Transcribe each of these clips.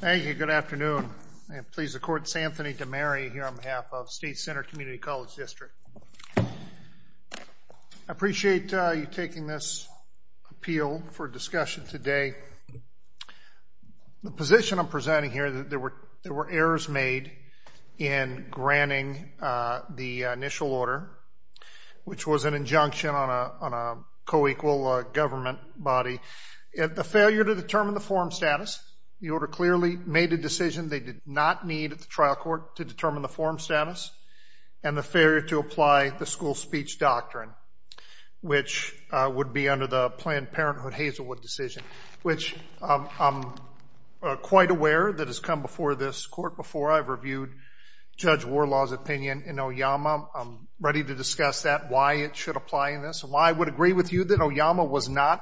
Thank you. Good afternoon and please accord Santhony to Mary here on behalf of State Center Community College District. I appreciate you taking this appeal for discussion today. The position I'm presenting here that there were there were errors made in granting the initial order which was an injunction on a co-equal government body. The failure to determine the forum status the order clearly made a decision they did not need at the trial court to determine the forum status and the failure to apply the school speech doctrine which would be under the Planned Parenthood Hazelwood decision which I'm quite aware that has come before this court before I've reviewed Judge Warlaw's opinion in Oyama. I'm ready to discuss that why it should apply in this and why I would agree with you that Oyama was not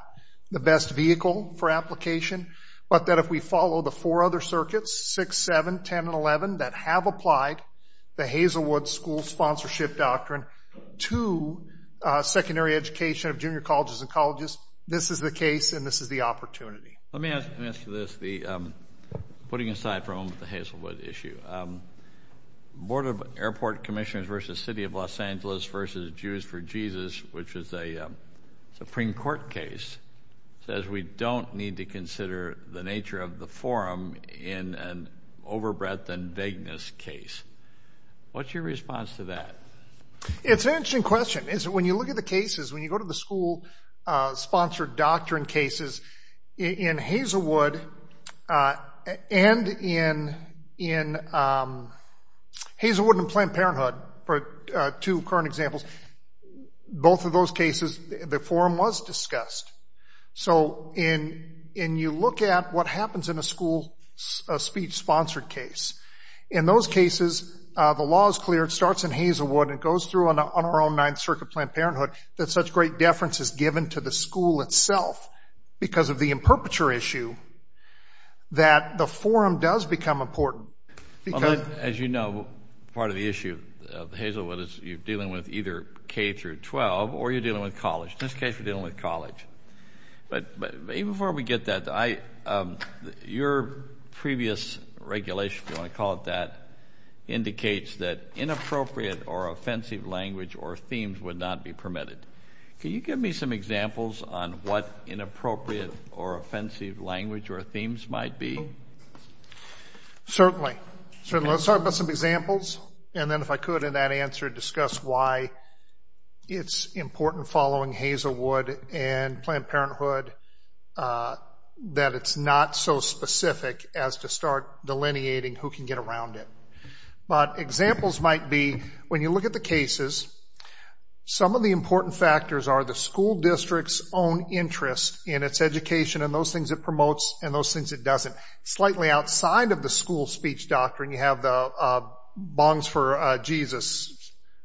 the best vehicle for application but that if we follow the four other circuits 6, 7, 10, and 11 that have applied the Hazelwood school sponsorship doctrine to secondary education of junior colleges and colleges this is the case and this is the opportunity. Let me ask you this the putting aside from the Hazelwood issue Board of Airport Commissioners versus City of Los Angeles versus Jews for need to consider the nature of the forum in an overbreadth and vagueness case. What's your response to that? It's an interesting question is when you look at the cases when you go to the school sponsored doctrine cases in Hazelwood and in Hazelwood and Planned Parenthood for two current examples both of those cases the forum was discussed so in in you look at what happens in a school speech sponsored case in those cases the law is clear it starts in Hazelwood and goes through on our own Ninth Circuit Planned Parenthood that such great deference is given to the school itself because of the imperpeture issue that the forum does become important. As you know part of the issue of Hazelwood is you're dealing with either K through 12 or you're dealing with college in this case we're dealing with college but but even before we get that I your previous regulation if you want to call it that indicates that inappropriate or offensive language or themes would not be permitted. Can you give me some examples on what inappropriate or offensive language or themes might be? Certainly. So let's talk about some examples and then if I could in that answer discuss why it's important following Hazelwood and Planned Parenthood that it's not so specific as to start delineating who can get around it but examples might be when you look at the cases some of the important factors are the school districts own interest in its education and those things it promotes and those things it doesn't. Slightly outside of the school speech doctrine you have the bongs for Jesus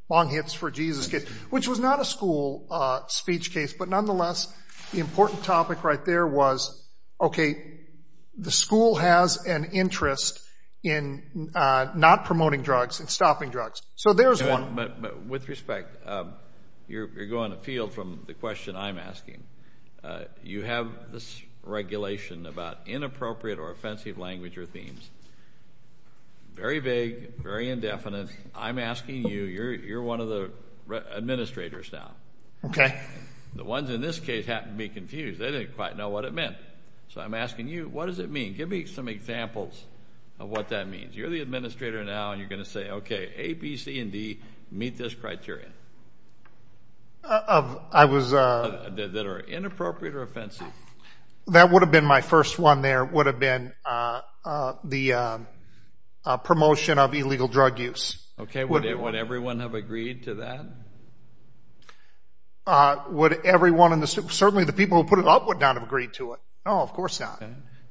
long hits for Jesus which was not a school speech case but nonetheless the important topic right there was okay the school has an interest in not promoting drugs and stopping drugs so there's one. But with respect you're going to feel from the question I'm asking you have this language or themes very vague very indefinite I'm asking you you're you're one of the administrators now. Okay. The ones in this case happened to be confused they didn't quite know what it meant so I'm asking you what does it mean give me some examples of what that means you're the administrator now and you're gonna say okay A, B, C, and D meet this criteria. Of I was uh. That are inappropriate or offensive. That would have been my first one there would have been the promotion of illegal drug use. Okay would everyone have agreed to that? Would everyone in the certainly the people who put it up would not have agreed to it. No of course not.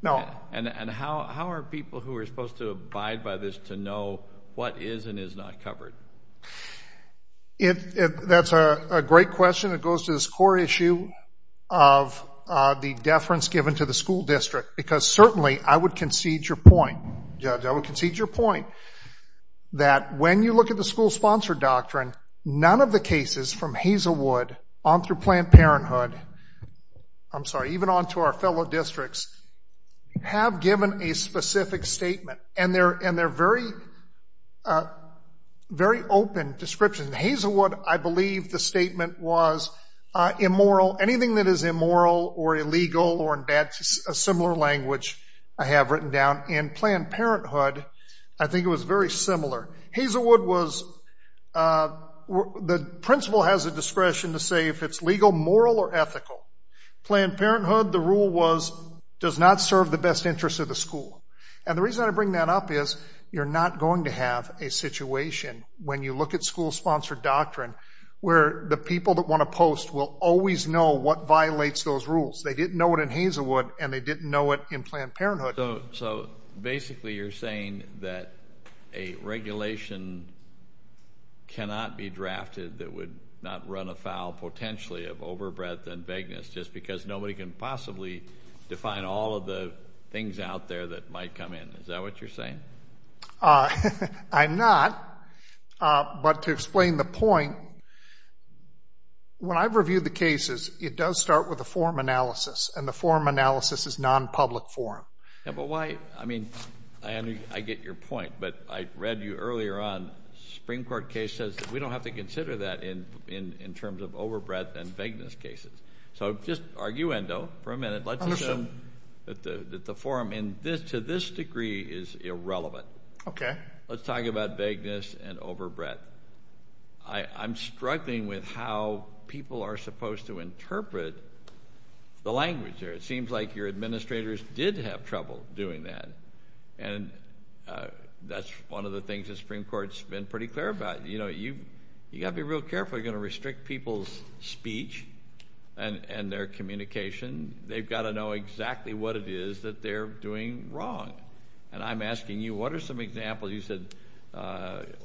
No. And and how how are people who are supposed to abide by this to know what is and is not covered? If that's a great question it goes to this core issue of the deference given to the school district because certainly I would concede your point judge I would concede your point that when you look at the school sponsor doctrine none of the cases from Hazelwood on through Planned Parenthood I'm sorry even on to our fellow districts have given a specific statement and they're and they're very very open description Hazelwood I believe the statement was immoral anything that is immoral or I have written down in Planned Parenthood I think it was very similar Hazelwood was the principal has a discretion to say if it's legal moral or ethical Planned Parenthood the rule was does not serve the best interest of the school and the reason I bring that up is you're not going to have a situation when you look at school sponsored doctrine where the people that want to post will always know what violates those rules they didn't know what in Planned Parenthood so basically you're saying that a regulation cannot be drafted that would not run afoul potentially of overbreadth and vagueness just because nobody can possibly define all of the things out there that might come in is that what you're saying I'm not but to explain the point when I've reviewed the cases it does start with a form analysis and the form analysis is non-public forum but why I mean I get your point but I read you earlier on Supreme Court case says that we don't have to consider that in in in terms of overbreadth and vagueness cases so just arguendo for a minute let's assume that the that the forum in this to this degree is irrelevant okay let's talk about vagueness and overbreadth I I'm struggling with how people are supposed to interpret the language there it seems like your administrators did have trouble doing that and that's one of the things that Supreme Court's been pretty clear about you know you you gotta be real careful you're gonna restrict people's speech and and their communication they've got to know exactly what it is that they're doing wrong and I'm asking you what are some examples you said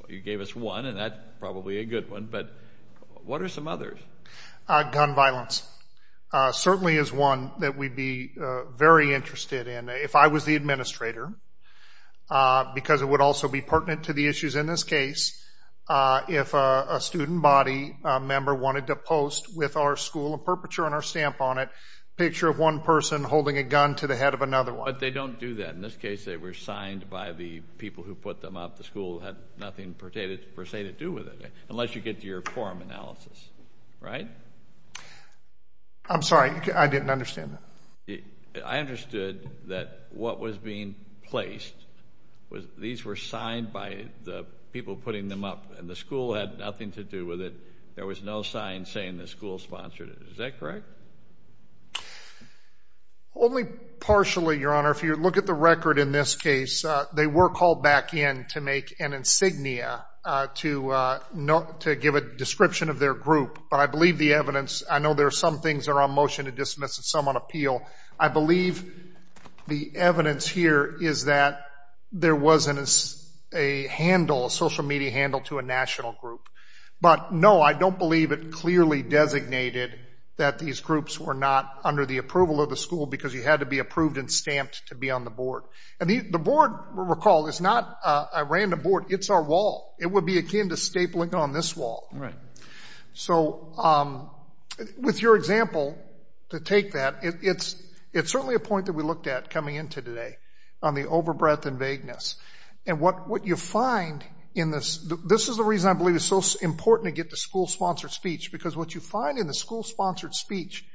you gave us one and that's probably a good one but what are some others gun violence certainly is one that we'd be very interested in if I was the administrator because it would also be pertinent to the issues in this case if a student body member wanted to post with our school of perpetual and our stamp on it picture of one person holding a gun to the head of another one they don't do that in this case they were signed by the people who put them up the school had nothing per se to do with it unless you get to your forum analysis right I'm sorry I didn't understand it I understood that what was being placed was these were signed by the people putting them up and the school had nothing to do with it there was no sign saying the school sponsored it is that correct only partially your honor if you look at the record in this case they were called back in to make an insignia to give a description of their group I believe the evidence I know there are some things are on motion to dismiss someone appeal I believe the evidence here is that there wasn't a handle social media handle to a national group but no I don't believe it clearly designated that these groups were not under the approval of the school because you had to be approved and stamped to be on the board and the board recall is not a random board it's our wall it would be akin to stapling on this wall right so with your example to take that it's it's certainly a point that we looked at coming into today on the overbreadth and vagueness and what what you find in this this is the reason I believe is so important to get to school sponsored speech because what you find in the school sponsored speech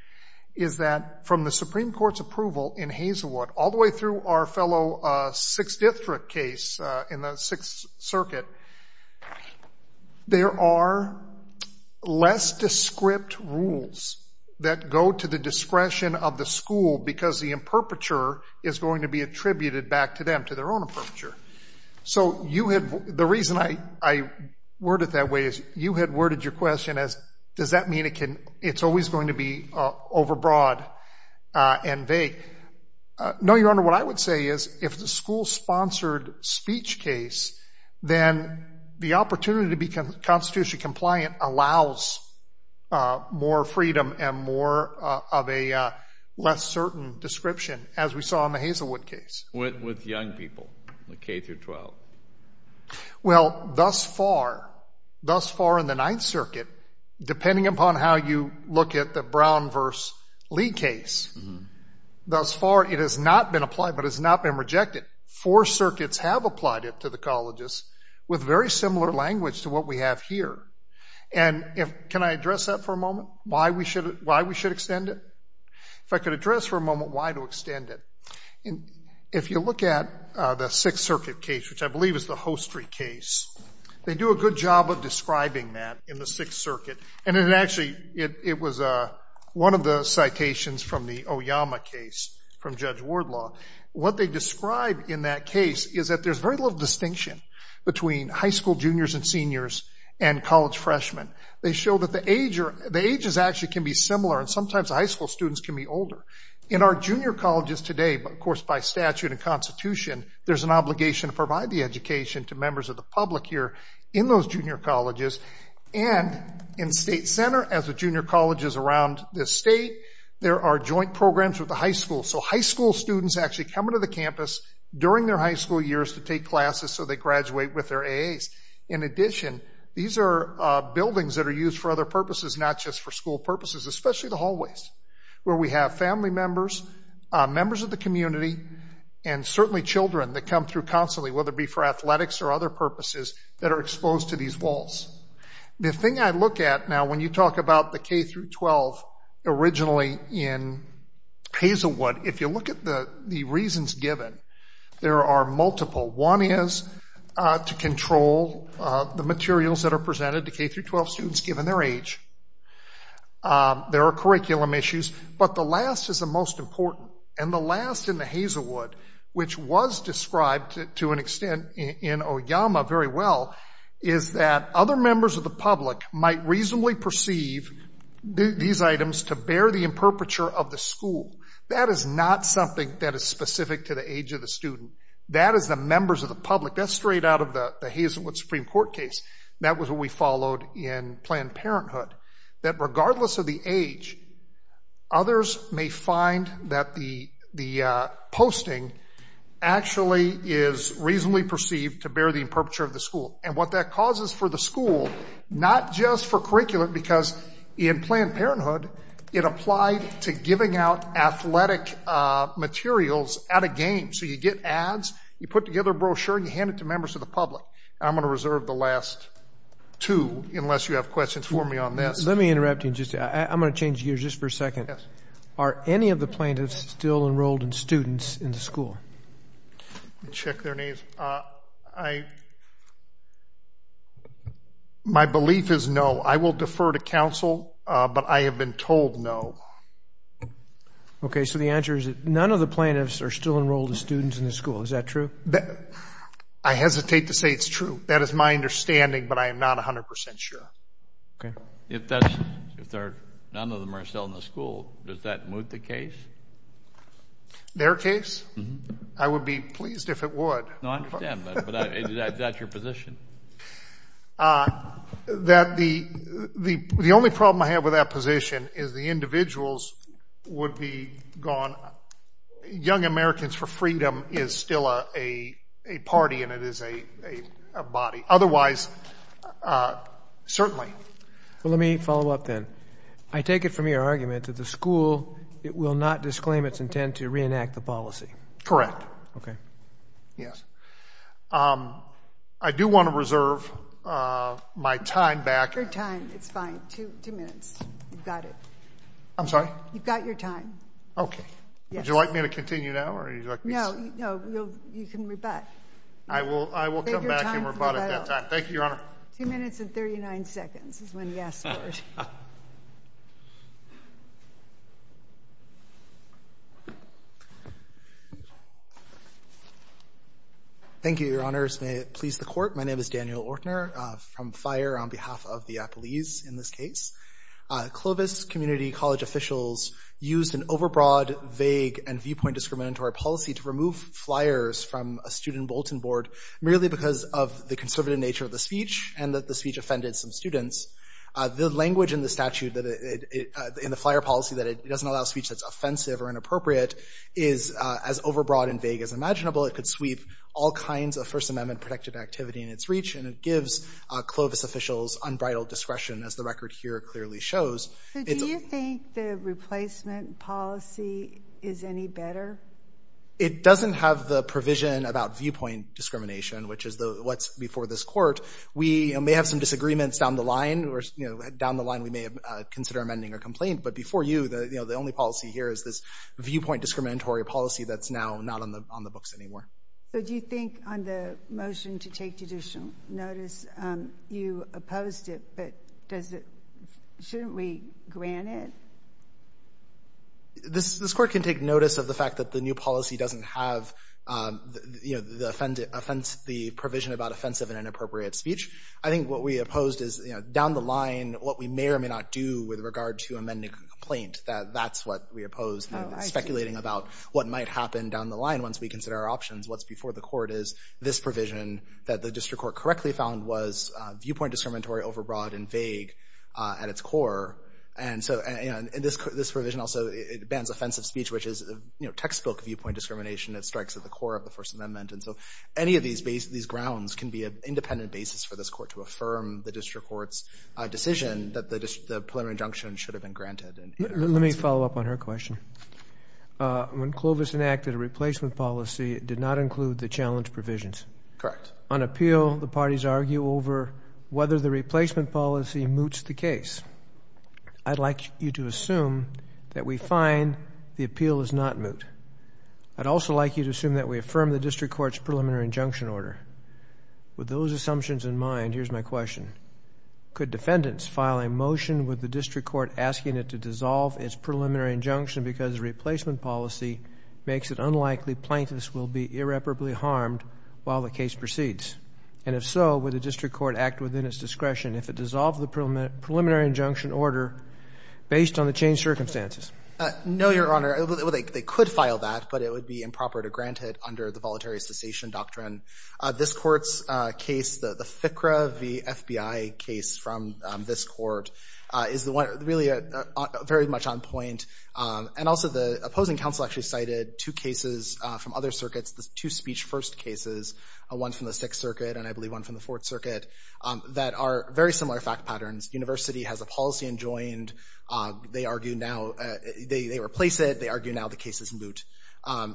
is that from the Supreme Court's approval in Hazelwood all the way through our fellow six district case in the Sixth Circuit there are less descript rules that go to the discretion of the school because the imperpeture is going to be attributed back to them to their own approach er so you have the reason I I worded that way is you had worded your question as does that mean it can it's always going to be overbroad and vague no your honor what I would say is if the school sponsored speech case then the opportunity to become constitution compliant allows more freedom and more of a less certain description as we saw in the Hazelwood case with young people K-12 well thus far thus far in the Ninth Circuit depending upon how you look at the Brown versus Lee case thus far it has not been applied but has not been rejected four circuits have applied it to the colleges with very similar language to what we have here and if can I address that for a moment why we should why we should extend it if I could address for a moment why to extend it and if you look at the Sixth Circuit case which I believe is the Hostry case they do a good job of describing that in the Sixth Circuit and it actually it was a one of the citations from the Oyama case from Judge Wardlaw what they describe in that case is that there's very little distinction between high school juniors and seniors and college freshmen they show that the age or the ages actually can be similar and sometimes high school students can be older in our junior colleges today but of course by statute and Constitution there's an obligation to provide the in state center as a junior colleges around this state there are joint programs with the high school so high school students actually come into the campus during their high school years to take classes so they graduate with their A's in addition these are buildings that are used for other purposes not just for school purposes especially the hallways where we have family members members of the community and certainly children that come through constantly whether it be for athletics or other purposes that are exposed to these walls the thing I look at now when you talk about the K through 12 originally in Hazelwood if you look at the the reasons given there are multiple one is to control the materials that are presented to K through 12 students given their age there are curriculum issues but the last is the most important and the last in the Hazelwood which was described to an extent in Oyama very well is that other members of the public might reasonably perceive these items to bear the imperpeture of the school that is not something that is specific to the age of the student that is the members of the public that's straight out of the Hazelwood Supreme Court case that was what we followed in Planned Parenthood that regardless of the age others may find that the the posting actually is reasonably perceived to bear the imperpeture of the school and what that for the school not just for curriculum because in Planned Parenthood it applied to giving out athletic materials at a game so you get ads you put together a brochure you hand it to members of the public I'm gonna reserve the last two unless you have questions for me on this let me interrupt you just I'm gonna change gears just for a second yes are any of the plaintiffs still enrolled in the school my belief is no I will defer to counsel but I have been told no okay so the answer is that none of the plaintiffs are still enrolled as students in the school is that true that I hesitate to say it's true that is my understanding but I am NOT 100% sure okay if that's if there none of them are in the school does that move the case their case I would be pleased if it would that your position that the the only problem I have with that position is the individuals would be gone young Americans for freedom is still a party and it is a body otherwise certainly well let me follow up then I take it from your argument that the school it will not disclaim its intent to reenact the policy correct okay yes I do want to reserve my time back your time it's fine two minutes you've got it I'm sorry you've got your time okay would you like me to continue now or you know you can rebut I will I will come thank you your honor two minutes and 39 seconds is when yes thank you your honors may it please the court my name is Daniel Ortner from fire on behalf of the Apple ease in this case Clovis community college officials used an overbroad vague and viewpoint discriminatory policy to remove flyers from a student Bolton board merely because of the conservative nature of the speech and that the speech offended some students the language in the statute that it in the flyer policy that it doesn't allow speech that's offensive or inappropriate is as overbroad and vague as imaginable it could sweep all kinds of First Amendment protected activity in its reach and it gives Clovis officials unbridled discretion as the record here clearly shows the replacement policy is it doesn't have the provision about viewpoint discrimination which is the what's before this court we may have some disagreements down the line or you know down the line we may have consider amending a complaint but before you the you know the only policy here is this viewpoint discriminatory policy that's now not on the on the books anymore so do you think on the motion to take judicial notice you opposed it but does it shouldn't we grant it this this court can take notice of the fact that the new policy doesn't have you know the offended offense the provision about offensive and inappropriate speech I think what we opposed is you know down the line what we may or may not do with regard to amending complaint that that's what we opposed speculating about what might happen down the line once we consider our options what's before the court is this provision that the district court correctly found was viewpoint discriminatory overbroad and vague at its core and so and this this provision also it bans offensive speech which is you know textbook viewpoint discrimination it strikes at the core of the First Amendment and so any of these base these grounds can be a independent basis for this court to affirm the district courts decision that the polymer injunction should have been granted and let me follow up on her question when Clovis enacted a replacement policy did not include the challenge provisions correct on appeal the parties argue over whether the replacement policy moots the case I'd like you to assume that we find the appeal is not moot I'd also like you to assume that we affirm the district courts preliminary injunction order with those assumptions in mind here's my question could defendants file a motion with the district court asking it to dissolve its preliminary injunction because replacement policy makes it unlikely plaintiffs will be irreparably harmed while the case proceeds and if so with the district court act within its based on the change circumstances no your honor they could file that but it would be improper to grant it under the voluntary cessation doctrine this court's case the the FICRA the FBI case from this court is the one really a very much on point and also the opposing counsel actually cited two cases from other circuits the two speech first cases a one from the Sixth Circuit and I believe one from the Fourth Circuit that are very similar fact patterns University has a policy enjoined they argue now they replace it they argue now the case is moot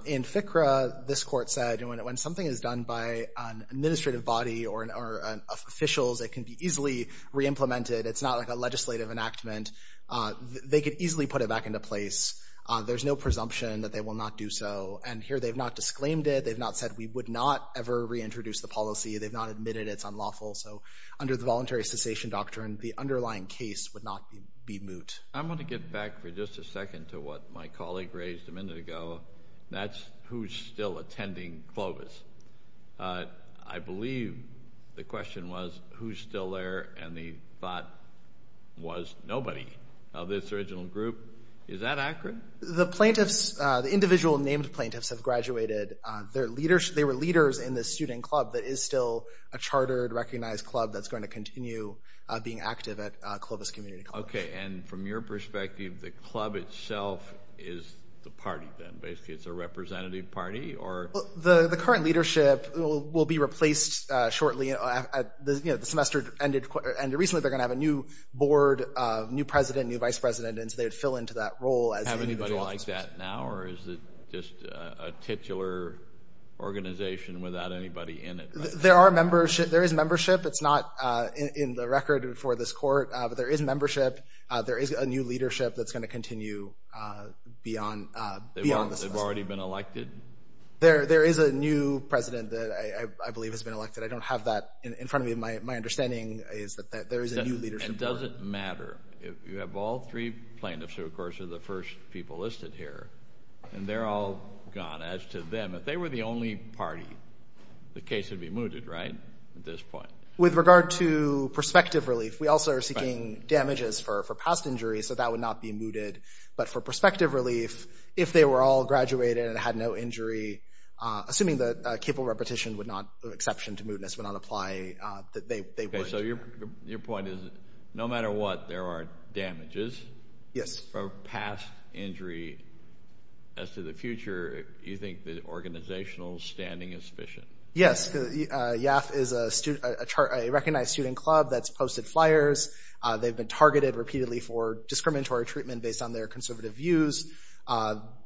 in FICRA this court said and when it when something is done by an administrative body or our officials it can be easily re-implemented it's not like a legislative enactment they could easily put it back into place there's no presumption that they will not do so and here they've not disclaimed it they've not said we would not ever reintroduce the policy they've not admitted it's underlying case would not be moot I'm going to get back for just a second to what my colleague raised a minute ago that's who's still attending Clovis I believe the question was who's still there and the thought was nobody of this original group is that accurate the plaintiffs the individual named plaintiffs have graduated their leaders they were leaders in this student club that is still a chartered recognized club that's going to continue being active at Clovis community okay and from your perspective the club itself is the party then basically it's a representative party or the the current leadership will be replaced shortly at the you know the semester ended and recently they're gonna have a new board of new president new vice president and so they would fill into that role as anybody like that now or is it just a titular organization without anybody in it there are membership there is this court but there is membership there is a new leadership that's going to continue beyond they've already been elected there there is a new president that I believe has been elected I don't have that in front of me my my understanding is that there is a new leadership doesn't matter if you have all three plaintiffs who of course are the first people listed here and they're all gone as to them if they were the only party the case would be mooted right with regard to perspective relief we also are seeking damages for past injuries so that would not be mooted but for perspective relief if they were all graduated and had no injury assuming that capable repetition would not exception to mootness would not apply that they so your your point is no matter what there are damages yes past injury as to the future you think the student club that's posted flyers they've been targeted repeatedly for discriminatory treatment based on their conservative views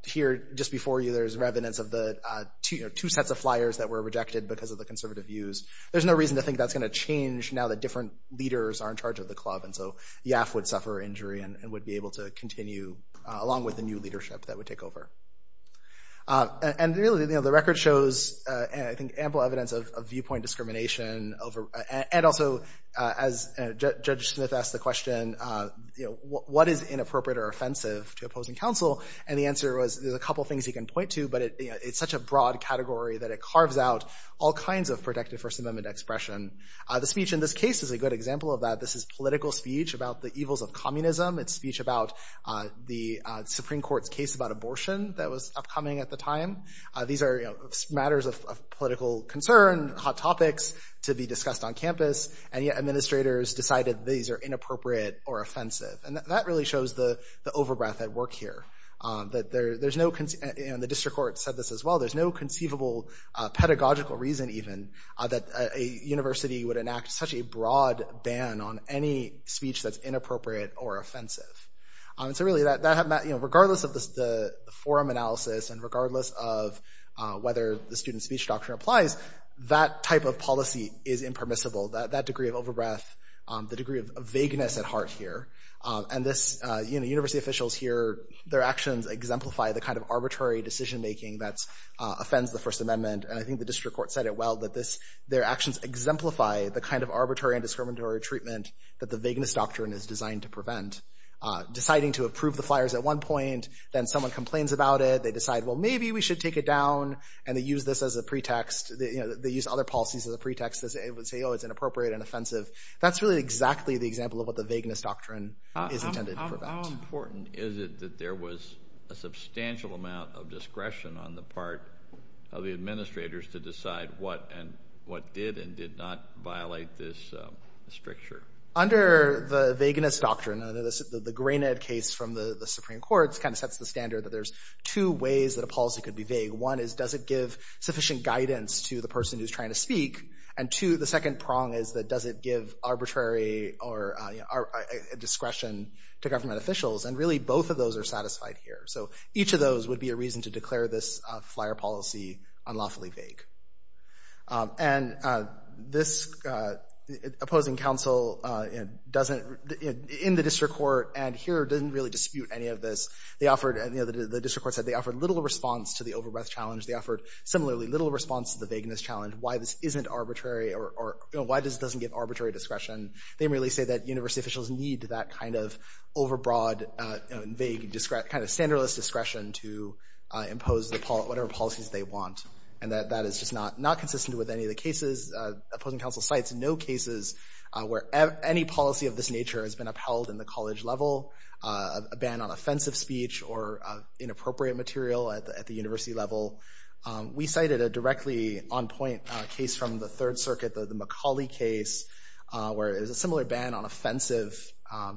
here just before you there's evidence of the two sets of flyers that were rejected because of the conservative views there's no reason to think that's going to change now that different leaders are in charge of the club and so yeah I would suffer injury and would be able to continue along with the new leadership that would take over and really the other record shows and I think ample evidence of viewpoint discrimination over and also as Judge Smith asked the question you know what is inappropriate or offensive to opposing counsel and the answer was there's a couple things you can point to but it's such a broad category that it carves out all kinds of protective First Amendment expression the speech in this case is a good example of that this is political speech about the evils of communism it's speech about the Supreme Court's case about abortion that was upcoming at the time these are matters of political concern hot topics to be discussed on campus and yet administrators decided these are inappropriate or offensive and that really shows the the overbreath at work here that there's no consent and the district court said this as well there's no conceivable pedagogical reason even that a university would enact such a broad ban on any speech that's inappropriate or offensive it's and regardless of whether the student speech doctrine applies that type of policy is impermissible that that degree of overbreath the degree of vagueness at heart here and this you know university officials here their actions exemplify the kind of arbitrary decision-making that's offends the First Amendment and I think the district court said it well that this their actions exemplify the kind of arbitrary and discriminatory treatment that the vagueness doctrine is designed to prevent deciding to approve the flyers at one point then someone complains about it they decide well maybe we should take it down and they use this as a pretext you know they use other policies as a pretext as it would say oh it's inappropriate and offensive that's really exactly the example of what the vagueness doctrine is intended how important is it that there was a substantial amount of discretion on the part of the administrators to decide what and what did and did not violate this stricture under the vagueness doctrine under the grain ed case from the the Supreme Court's kind of sets the standard that there's two ways that a policy could be vague one is does it give sufficient guidance to the person who's trying to speak and to the second prong is that does it give arbitrary or a discretion to government officials and really both of those are satisfied here so each of those would be a reason to declare this flyer policy unlawfully vague and this opposing counsel it doesn't in the district court and here didn't really dispute any of this they know that the district court said they offered little response to the overbreath challenge they offered similarly little response to the vagueness challenge why this isn't arbitrary or why does it doesn't get arbitrary discretion they really say that university officials need that kind of overbroad vague discrete kind of standardless discretion to impose the part whatever policies they want and that that is just not not consistent with any of the cases opposing counsel sites no cases where any policy of this inappropriate material at the university level we cited a directly on point case from the Third Circuit the Macaulay case where it was a similar ban on offensive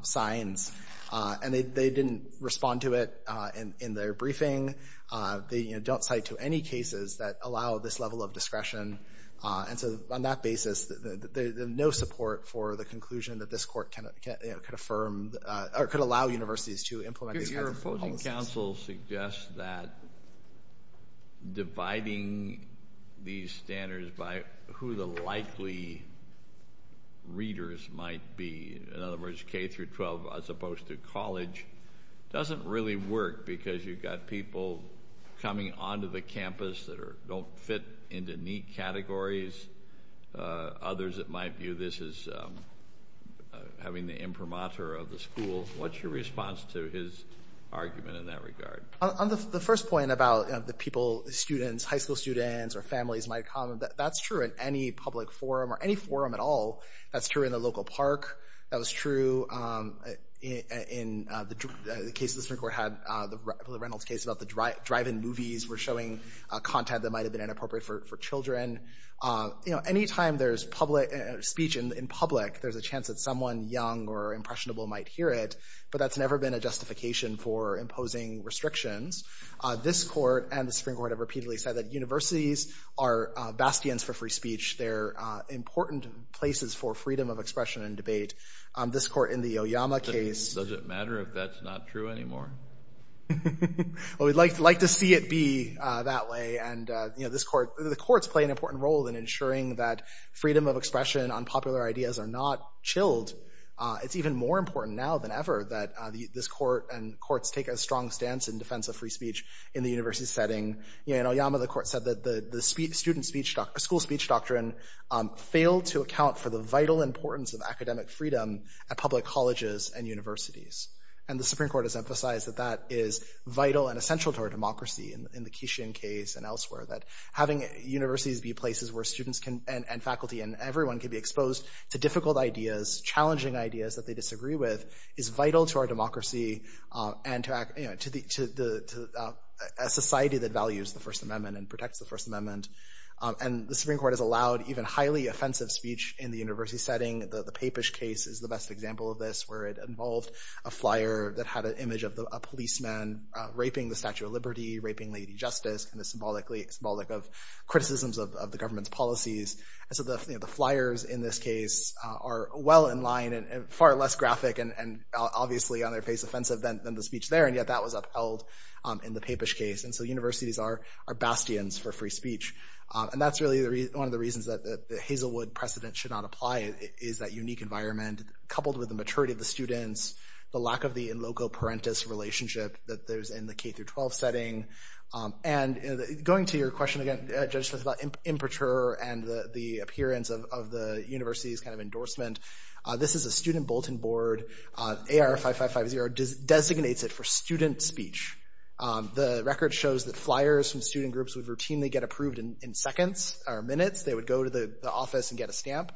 signs and they didn't respond to it and in their briefing they don't cite to any cases that allow this level of discretion and so on that basis there's no support for the conclusion that this court cannot get it could firm or could allow universities to implement your counsel suggests that dividing these standards by who the likely readers might be in other words K through 12 as opposed to college doesn't really work because you've got people coming on to the campus that are don't fit into neat categories others that might view this as having the imprimatur of the school what's your response to his argument in that regard on the first point about the people students high school students or families might comment that's true in any public forum or any forum at all that's true in the local park that was true in the case of the Supreme Court had the Reynolds case about the drive drive-in movies were showing content that might have been inappropriate for children you know anytime there's public speech in public there's a chance that someone young or impressionable might hear it but that's never been a justification for imposing restrictions this court and the Supreme Court have repeatedly said that universities are bastions for free speech they're important places for freedom of expression and debate this court in the Oyama case doesn't matter if that's not true anymore well we'd like to like to see it be that way and you know this court the courts play an important role in ensuring that freedom of expression on popular ideas are not chilled it's even more important now than ever that this court and courts take a strong stance in defense of free speech in the university setting you know Yama the court said that the the speed student speech doctor school speech doctrine failed to account for the vital importance of academic freedom at public colleges and universities and the Supreme Court has vital and essential to our democracy in the Keishon case and elsewhere that having universities be places where students can and faculty and everyone can be exposed to difficult ideas challenging ideas that they disagree with is vital to our democracy and to act to the society that values the First Amendment and protects the First Amendment and the Supreme Court has allowed even highly offensive speech in the university setting the the Papish case is the best example of this where it involved a flyer that had an image of a policeman raping the Statue of Liberty raping Lady Justice and a symbolically symbolic of criticisms of the government's policies and so the flyers in this case are well in line and far less graphic and obviously on their face offensive than the speech there and yet that was upheld in the Papish case and so universities are our bastions for free speech and that's really the reason one of the reasons that the Hazelwood precedent should not apply is that unique environment coupled with the maturity of the students the lack of the in loco parentis relationship that there's in the k-12 setting and going to your question again just about imperature and the appearance of the university's kind of endorsement this is a student bulletin board AR 5550 designates it for student speech the record shows that flyers from student groups would routinely get approved in seconds or minutes they would go to the office and get a stamp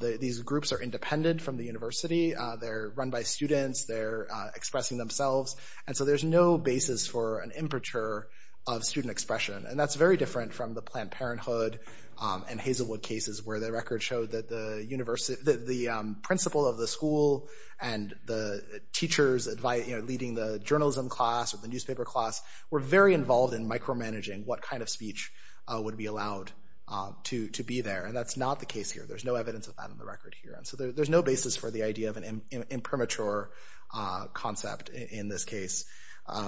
these groups are independent from the university they're run by students they're expressing themselves and so there's no basis for an imperature of student expression and that's very different from the Planned Parenthood and Hazelwood cases where the record showed that the university the principal of the school and the teachers advice you know leading the journalism class or the newspaper class were very involved in micromanaging what kind of speech would be allowed to to be there and that's not the case here there's no evidence of that in the record here and so there's no basis for the idea of an impermature concept in this case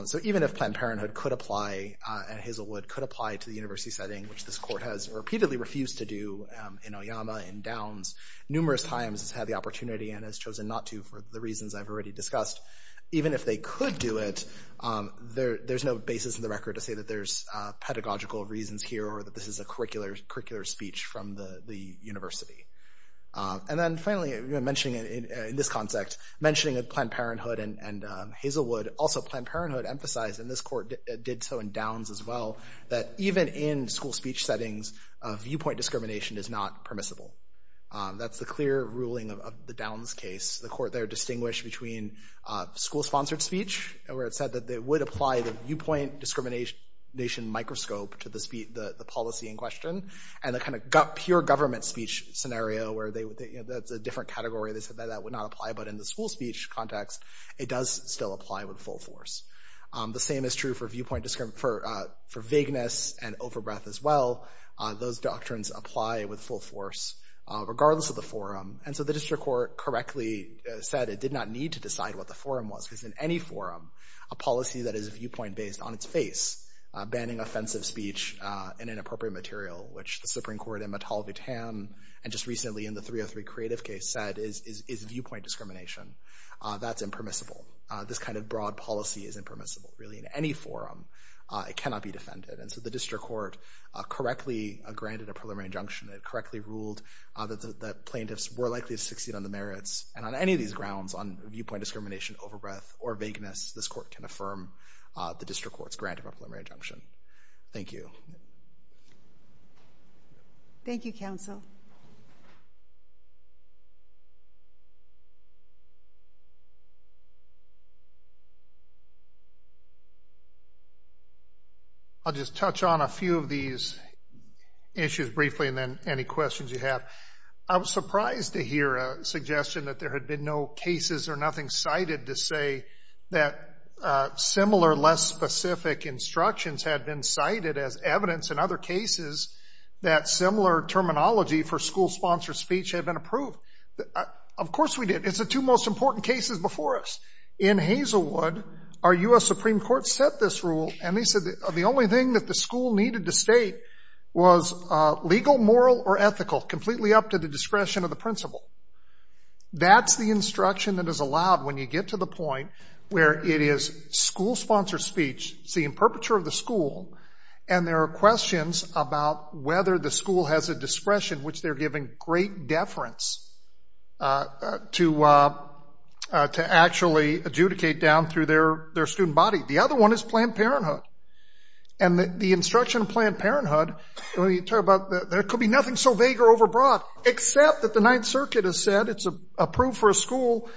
so even if Planned Parenthood could apply and Hazelwood could apply to the university setting which this court has repeatedly refused to do in Oyama and downs numerous times has had the opportunity and has chosen not to for the reasons I've already discussed even if they could do it there there's no basis in the record to say that there's pedagogical reasons here or that this is a curricular curricular from the the university and then finally even mentioning it in this concept mentioning a Planned Parenthood and Hazelwood also Planned Parenthood emphasized in this court did so in downs as well that even in school speech settings viewpoint discrimination is not permissible that's the clear ruling of the downs case the court they're distinguished between school sponsored speech where it said that they would apply the viewpoint discrimination microscope to the speed the policy in question and the kind of gut pure government speech scenario where they that's a different category they said that that would not apply but in the school speech context it does still apply with full force the same is true for viewpoint discrim for for vagueness and overbreath as well those doctrines apply with full force regardless of the forum and so the district court correctly said it did not need to decide what the forum was because in any forum a policy that is a viewpoint based on its face banning offensive speech in an appropriate material which the Supreme Court in Metallica tan and just recently in the 303 creative case said is viewpoint discrimination that's impermissible this kind of broad policy is impermissible really in any forum it cannot be defended and so the district court correctly granted a preliminary injunction it correctly ruled that the plaintiffs were likely to succeed on the merits and on any of these grounds on viewpoint discrimination overbreath or vagueness this court can affirm the district court's grant of a preliminary injunction thank you thank you counsel I'll just touch on a few of these issues briefly and then any questions you have I was surprised to hear a suggestion that there had been no cases or nothing cited to say that similar less specific instructions had been cited as evidence in other cases that similar terminology for school sponsored speech had been approved of course we did it's a two most important cases before us in Hazelwood our US Supreme Court set this rule and they said the only thing that the school needed to state was legal moral or ethical completely up to the get to the point where it is school sponsored speech see in perpetual the school and there are questions about whether the school has a discretion which they're giving great deference to to actually adjudicate down through their their student body the other one is Planned Parenthood and the instruction of Planned Parenthood when you talk about there could be nothing so vague or overbroad except that the Ninth Circuit has said it's a proof for a rule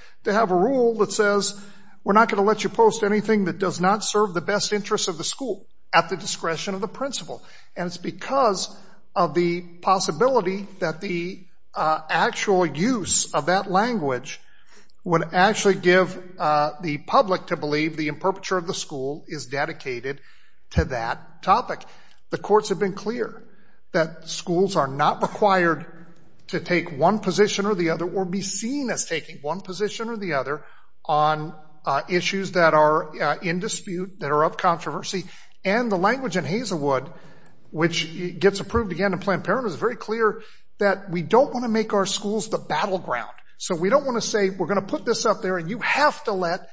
that says we're not going to let you post anything that does not serve the best interest of the school at the discretion of the principal and it's because of the possibility that the actual use of that language would actually give the public to believe the imperpeture of the school is dedicated to that topic the courts have been clear that schools are not required to take one position or the other or be seen as taking one position or the other on issues that are in dispute that are of controversy and the language in Hazelwood which gets approved again in Planned Parenthood is very clear that we don't want to make our schools the battleground so we don't want to say we're going to put this up there and you have to let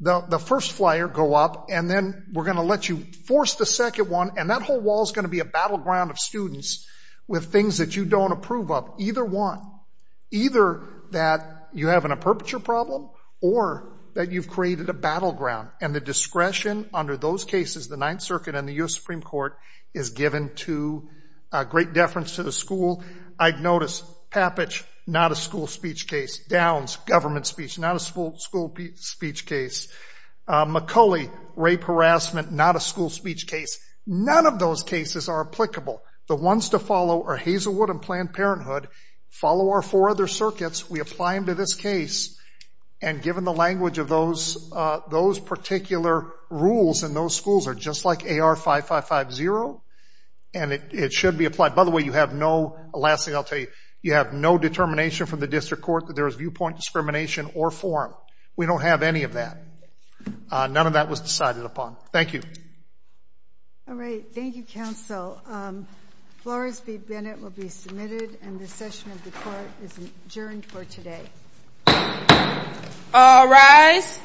the first flyer go up and then we're going to let you force the second one and that whole wall is going to be a battleground of students with things that you don't approve of either one either that you have an imperpeture problem or that you've created a battleground and the discretion under those cases the Ninth Circuit and the US Supreme Court is given to a great deference to the school I'd notice Pappage not a school speech case Downs government speech not a school school speech case McCulley rape harassment not a school speech case none of those cases are applicable the ones to follow or Hazelwood and Planned Parenthood follow our four other circuits we apply them to this case and given the language of those those particular rules and those schools are just like AR 5550 and it should be applied by the way you have no last thing I'll tell you you have no determination from the district court that there is viewpoint discrimination or forum we don't have any of that none of that was decided upon thank you all Flores be Bennett will be submitted and the session of the court is adjourned for today all rise